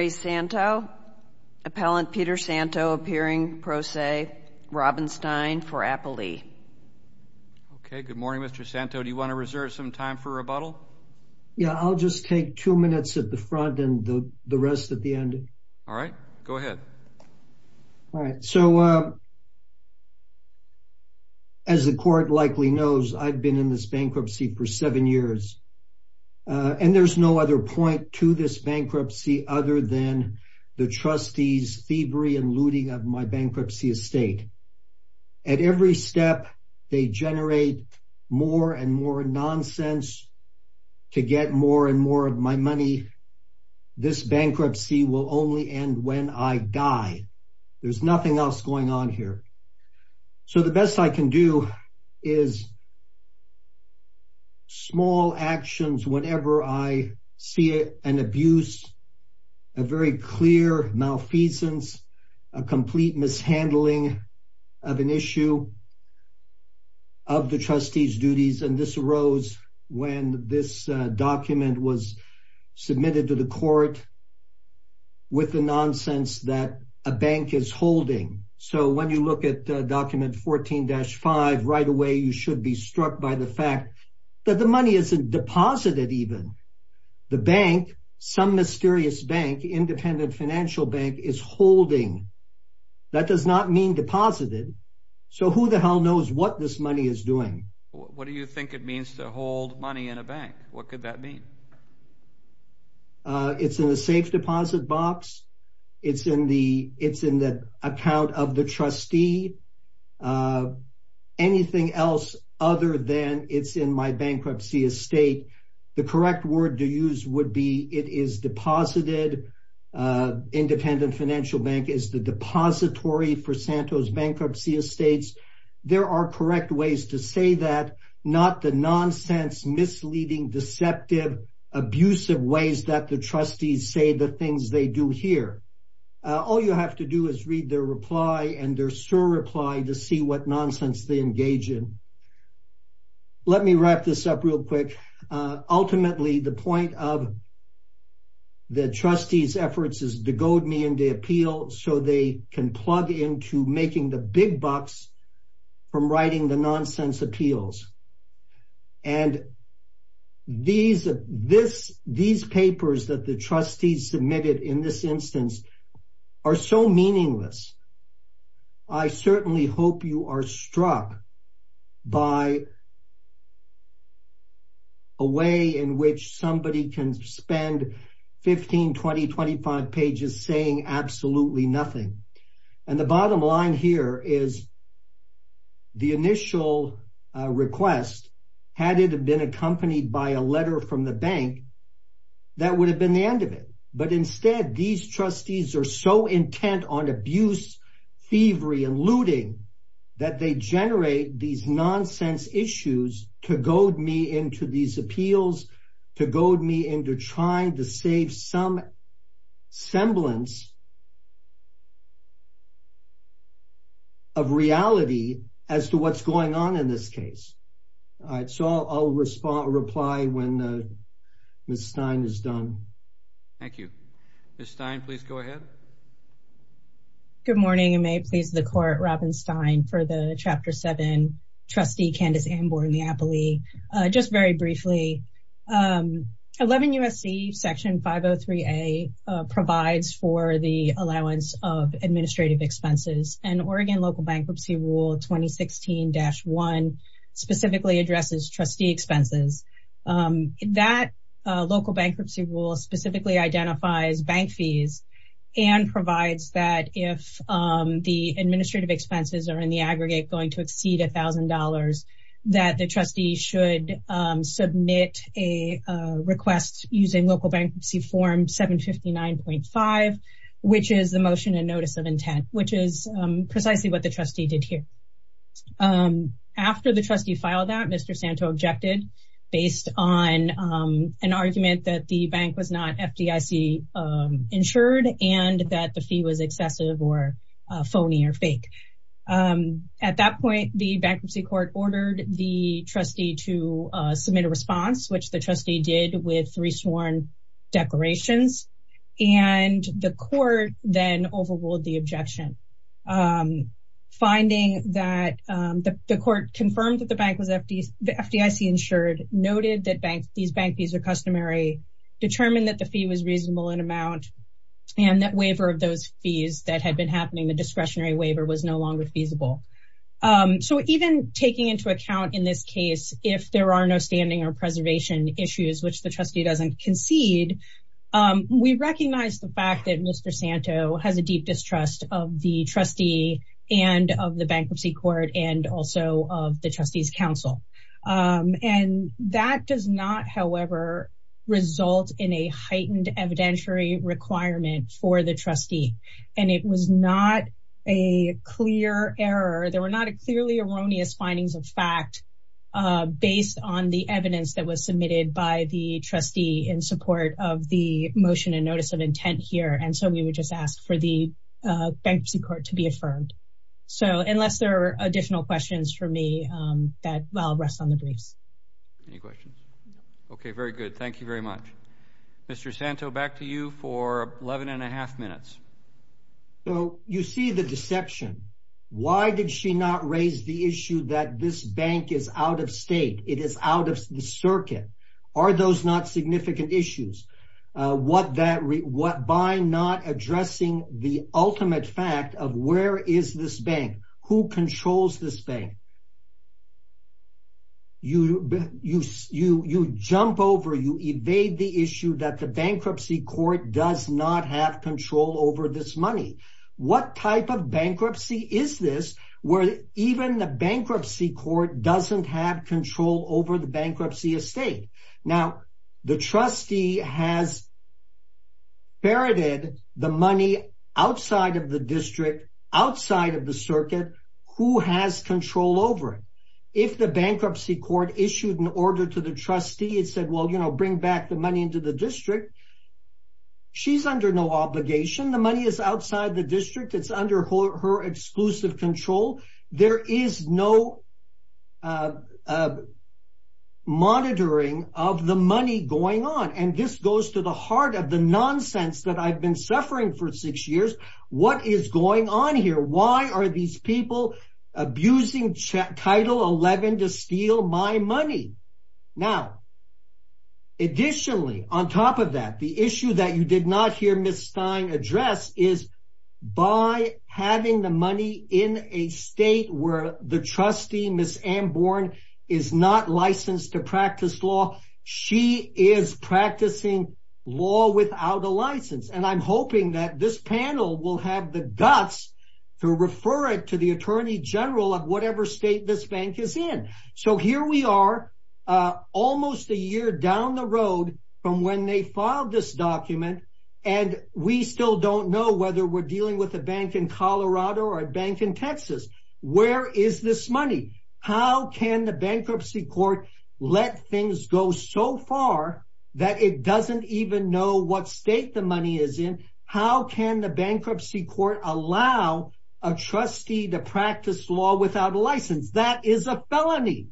SZANTO, APPELLANT PETER SZANTO APPEARING PRO SE, ROBINSTEIN FOR APPLELEE. Okay, good morning, Mr. Szanto. Do you want to reserve some time for rebuttal? Yeah, I'll just take two minutes at the front and the rest at the end. All right. Go ahead. All right. So, as the court likely knows, I've been in this bankruptcy for seven years. And there's no other point to this bankruptcy other than the trustee's thievery and looting of my bankruptcy estate. At every step, they generate more and more nonsense to get more and more of my money. This bankruptcy will only end when I die. There's nothing else going on here. So, the best I can do is small actions whenever I see an abuse, a very clear malfeasance, a complete mishandling of an issue of the trustee's duties. And this arose when this document was submitted to the court with the nonsense that a bank is holding. So, when you look at document 14-5, right away, you should be struck by the fact that the money isn't deposited even. The bank, some mysterious bank, independent financial bank, is holding. That does not mean deposited. So, who the hell knows what this money is doing? What do you think it means to hold money in a bank? What could that mean? It's in the safe deposit box. It's in the account of the trustee. Anything else other than it's in my bankruptcy estate, the correct word to use would be it is deposited. Independent financial bank is the depository for Santos Bankruptcy Estates. There are correct ways to say that, not the nonsense, misleading, deceptive, abusive ways that the trustees say the things they do here. All you have to do is read their reply and their sure reply to see what nonsense they engage in. Let me wrap this up real quick. Ultimately, the point of the trustees' efforts is to goad me into appeal so they can plug into making the big bucks from writing the nonsense appeals. And these papers that the trustees submitted in this instance are so meaningless. I certainly hope you are struck by a way in which somebody can spend 15, 20, 25 pages saying absolutely nothing. And the bottom line here is the initial request, had it been accompanied by a letter from the bank, that would have been the end of it. But instead, these trustees are so intent on abuse, thievery, and looting that they generate these nonsense issues to goad me into these appeals, to goad me into trying to save some semblance of reality as to what's going on in this case. So I'll reply when Ms. Stein is done. Thank you. Ms. Stein, please go ahead. Good morning, and may it please the Court, Robin Stein for the Chapter 7, Trustee Candace Ambour-Neapoli. Just very briefly, 11 U.S.C. Section 503A provides for the allowance of administrative expenses, and Oregon Local Bankruptcy Rule 2016-1 specifically addresses trustee expenses. That local bankruptcy rule specifically identifies bank fees and provides that if the administrative expenses are in the aggregate going to exceed $1,000, that the trustee should submit a request using Local Bankruptcy Form 759.5, which is the Motion and Notice of Intent, which is precisely what the trustee did here. After the trustee filed that, Mr. Santo objected based on an argument that the bank was not FDIC-insured and that the fee was excessive or phony or fake. At that point, the Bankruptcy Court ordered the trustee to submit a response, which the trustee did with three sworn declarations, and the Court then overruled the objection. Finding that the Court confirmed that the bank was FDIC-insured, noted that these bank fees are customary, determined that the fee was reasonable in amount, and that waiver of those fees that had been happening, the discretionary waiver, was no longer feasible. So even taking into account in this case, if there are no standing or preservation issues, which the trustee doesn't concede, we recognize the fact that Mr. Santo has a deep distrust of the trustee and of the Bankruptcy Court and also of the Trustees Council. And that does not, however, result in a heightened evidentiary requirement for the trustee, and it was not a clear error. There were not clearly erroneous findings of fact based on the evidence that was submitted by the trustee in support of the Motion and Notice of Intent here, and so we would just ask for the Bankruptcy Court to be affirmed. So unless there are additional questions for me, I'll rest on the briefs. Any questions? Okay, very good. Thank you very much. Mr. Santo, back to you for 11 and a half minutes. So you see the deception. Why did she not raise the issue that this bank is out of state, it is out of the circuit? Are those not significant issues? By not addressing the ultimate fact of where is this bank, who controls this bank? You jump over, you evade the issue that the Bankruptcy Court does not have control over this money. What type of bankruptcy is this where even the Bankruptcy Court doesn't have control over the bankruptcy estate? Now, the trustee has ferreted the money outside of the district, outside of the circuit. Who has control over it? If the Bankruptcy Court issued an order to the trustee and said, well, you know, bring back the money into the district, she's under no obligation. The money is outside the district. It's under her exclusive control. There is no monitoring of the money going on. And this goes to the heart of the nonsense that I've been suffering for six years. What is going on here? Why are these people abusing Title 11 to steal my money? Now, additionally, on top of that, the issue that you did not hear Ms. Stein address is by having the money in a state where the trustee, Ms. Amborn, is not licensed to practice law. She is practicing law without a license. And I'm hoping that this panel will have the guts to refer it to the Attorney General of whatever state this bank is in. So here we are, almost a year down the road from when they filed this document. And we still don't know whether we're dealing with a bank in Colorado or a bank in Texas. Where is this money? How can the Bankruptcy Court let things go so far that it doesn't even know what state the money is in? How can the Bankruptcy Court allow a trustee to practice law without a license? That is a felony.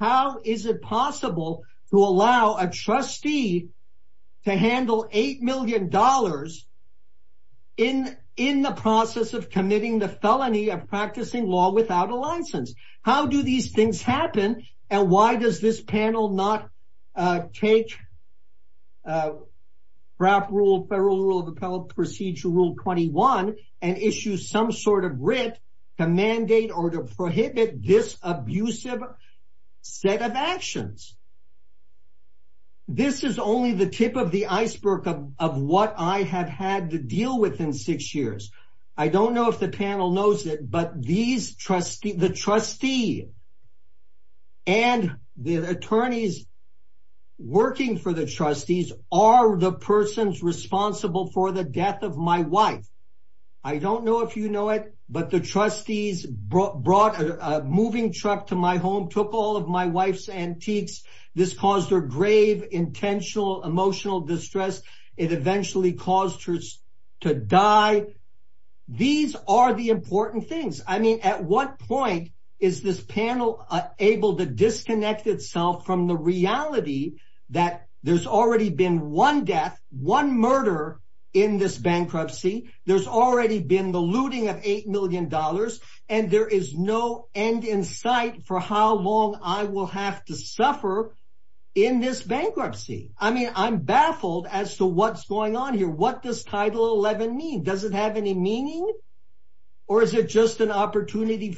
How is it possible to allow a trustee to handle $8 million in the process of committing the felony of practicing law without a license? How do these things happen? And why does this panel not take Federal Rule of Appellate Procedure Rule 21 and issue some sort of writ to mandate or to prohibit this abusive set of actions? This is only the tip of the iceberg of what I have had to deal with in six years. I don't know if the panel knows it, but the trustee and the attorneys working for the trustees are the persons responsible for the death of my wife. I don't know if you know it, but the trustees brought a moving truck to my home, took all of my wife's antiques. This caused her grave, intentional, emotional distress. It eventually caused her to die. These are the important things. I mean, at what point is this panel able to disconnect itself from the reality that there's already been one death, one murder in this bankruptcy? There's already been the looting of $8 million, and there is no end in sight for how long I will have to suffer in this bankruptcy. I mean, I'm baffled as to what's going on here. What does Title 11 mean? Does it have any meaning, or is it just an opportunity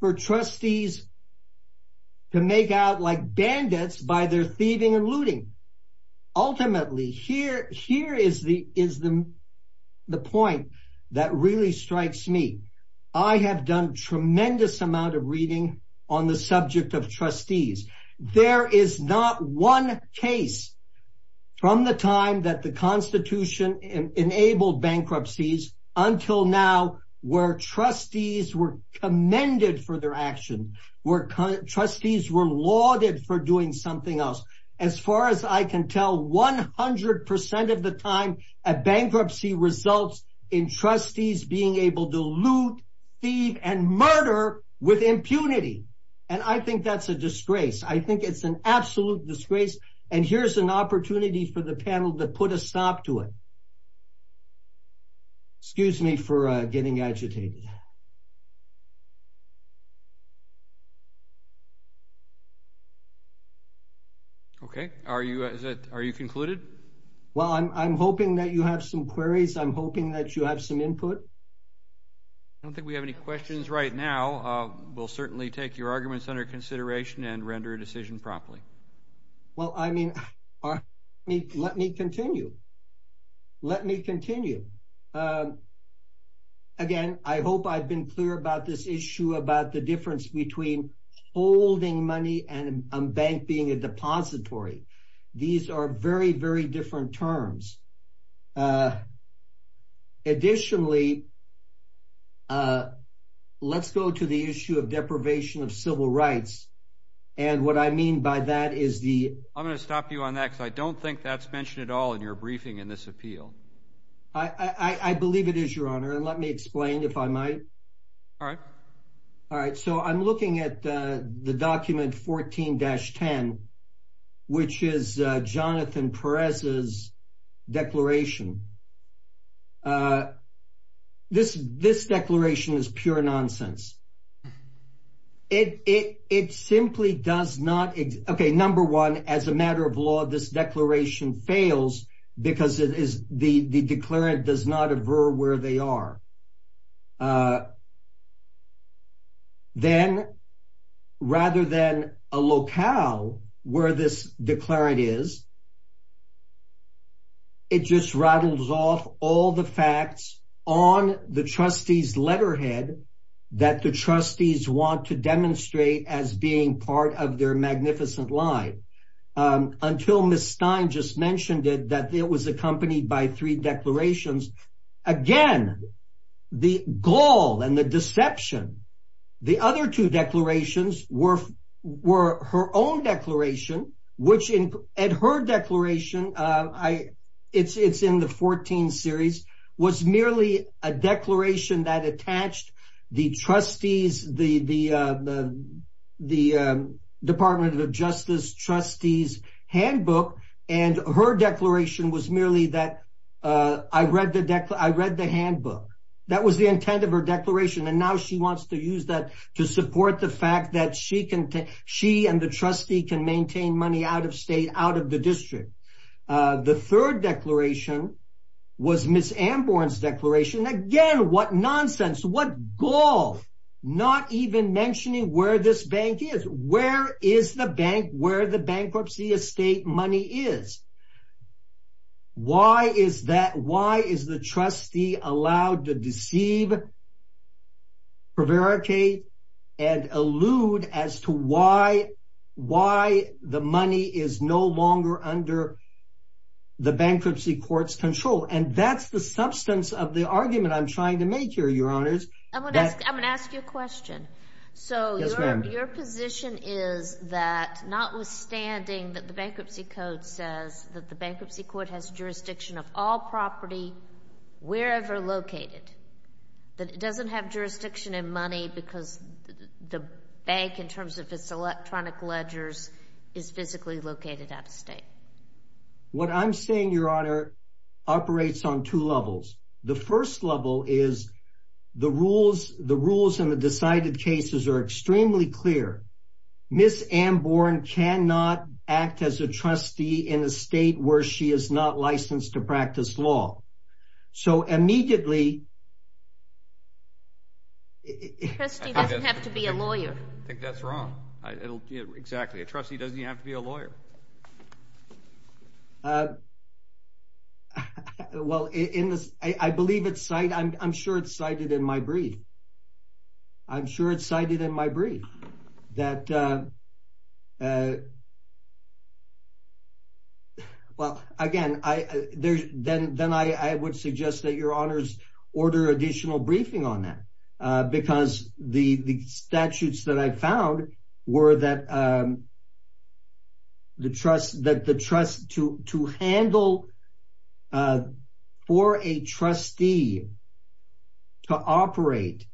for trustees to make out like bandits by their thieving and looting? Ultimately, here is the point that really strikes me. I have done tremendous amount of reading on the subject of trustees. There is not one case from the time that the Constitution enabled bankruptcies until now where trustees were commended for their action, where trustees were lauded for doing something else. As far as I can tell, 100% of the time, a bankruptcy results in trustees being able to loot, thieve, and murder with impunity. I think that's a disgrace. I think it's an absolute disgrace, and here's an opportunity for the panel to put a stop to it. Excuse me for getting agitated. Okay. Are you concluded? Well, I'm hoping that you have some queries. I'm hoping that you have some input. I don't think we have any questions right now. We'll certainly take your arguments under consideration and render a decision promptly. Well, I mean, let me continue. Let me continue. Again, I hope I've been clear about this issue about the difference between holding money and a bank being a depository. These are very, very different terms. Additionally, let's go to the issue of deprivation of civil rights, and what I mean by that is the… I'm going to stop you on that because I don't think that's mentioned at all in your briefing in this appeal. I believe it is, Your Honor, and let me explain, if I might. All right. All right, so I'm looking at the document 14-10, which is Jonathan Perez's declaration. This declaration is pure nonsense. It simply does not… Okay, number one, as a matter of law, this declaration fails because the declarant does not aver where they are. Then, rather than a locale where this declarant is, it just rattles off all the facts on the trustee's letterhead that the trustees want to demonstrate as being part of their magnificent line. Until Ms. Stein just mentioned it, that it was accompanied by three declarations. Again, the gall and the deception. The other two declarations were her own declaration, which in her declaration, it's in the 14 series, was merely a declaration that attached the trustees, the Department of Justice trustees' handbook, and her declaration was merely that I read the handbook. That was the intent of her declaration, and now she wants to use that to support the fact that she and the trustee can maintain money out of state, out of the district. The third declaration was Ms. Amborn's declaration. Again, what nonsense, what gall, not even mentioning where this bank is. Where is the bank where the bankruptcy estate money is? Why is the trustee allowed to deceive, prevaricate, and allude as to why the money is no longer under the bankruptcy court's control? That's the substance of the argument I'm trying to make here, Your Honors. I'm going to ask you a question. Yes, ma'am. Your position is that notwithstanding that the bankruptcy code says that the bankruptcy court has jurisdiction of all property, wherever located, that it doesn't have jurisdiction in money because the bank, in terms of its electronic ledgers, is physically located out of state? What I'm saying, Your Honor, operates on two levels. The first level is the rules and the decided cases are extremely clear. Ms. Amborn cannot act as a trustee in a state where she is not licensed to practice law. So, immediately… A trustee doesn't have to be a lawyer. I think that's wrong. Exactly. A trustee doesn't have to be a lawyer. Well, I believe it's cited. I'm sure it's cited in my brief. I'm sure it's cited in my brief. Well, again, then I would suggest that Your Honors order additional briefing on that. Because the statutes that I found were that to handle for a trustee to operate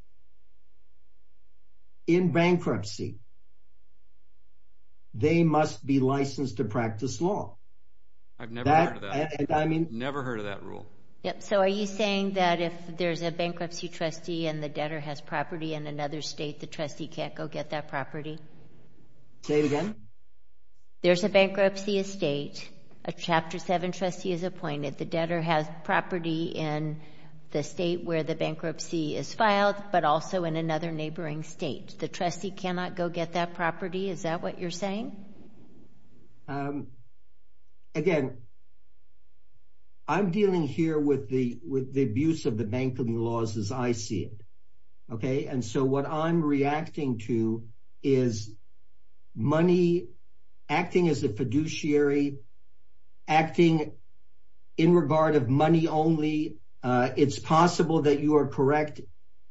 in bankruptcy, they must be licensed to practice law. I've never heard of that. I mean… I've never heard of that rule. So, are you saying that if there's a bankruptcy trustee and the debtor has property in another state, the trustee can't go get that property? Say it again? There's a bankruptcy estate. A Chapter 7 trustee is appointed. The debtor has property in the state where the bankruptcy is filed, but also in another neighboring state. The trustee cannot go get that property. Is that what you're saying? Again, I'm dealing here with the abuse of the banking laws as I see it. Okay? And so what I'm reacting to is money acting as a fiduciary, acting in regard of money only. It's possible that you are correct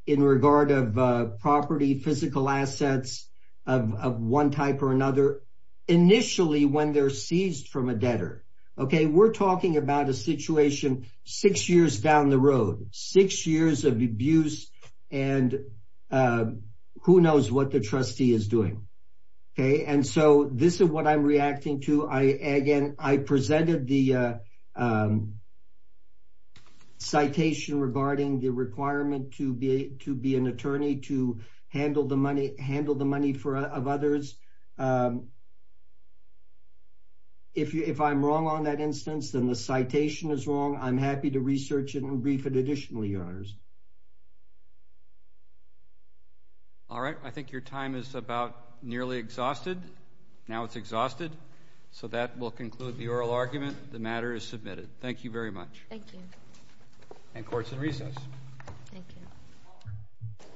in regard of property, physical assets of one type or another initially when they're seized from a debtor. Okay? We're talking about a situation six years down the road. Six years of abuse and who knows what the trustee is doing. Okay? And so this is what I'm reacting to. Again, I presented the citation regarding the requirement to be an attorney to handle the money of others. If I'm wrong on that instance and the citation is wrong, I'm happy to research it and brief it additionally, Your Honors. All right. I think your time is about nearly exhausted. Now it's exhausted. So that will conclude the oral argument. The matter is submitted. Thank you very much. Thank you. And court is in recess. Thank you.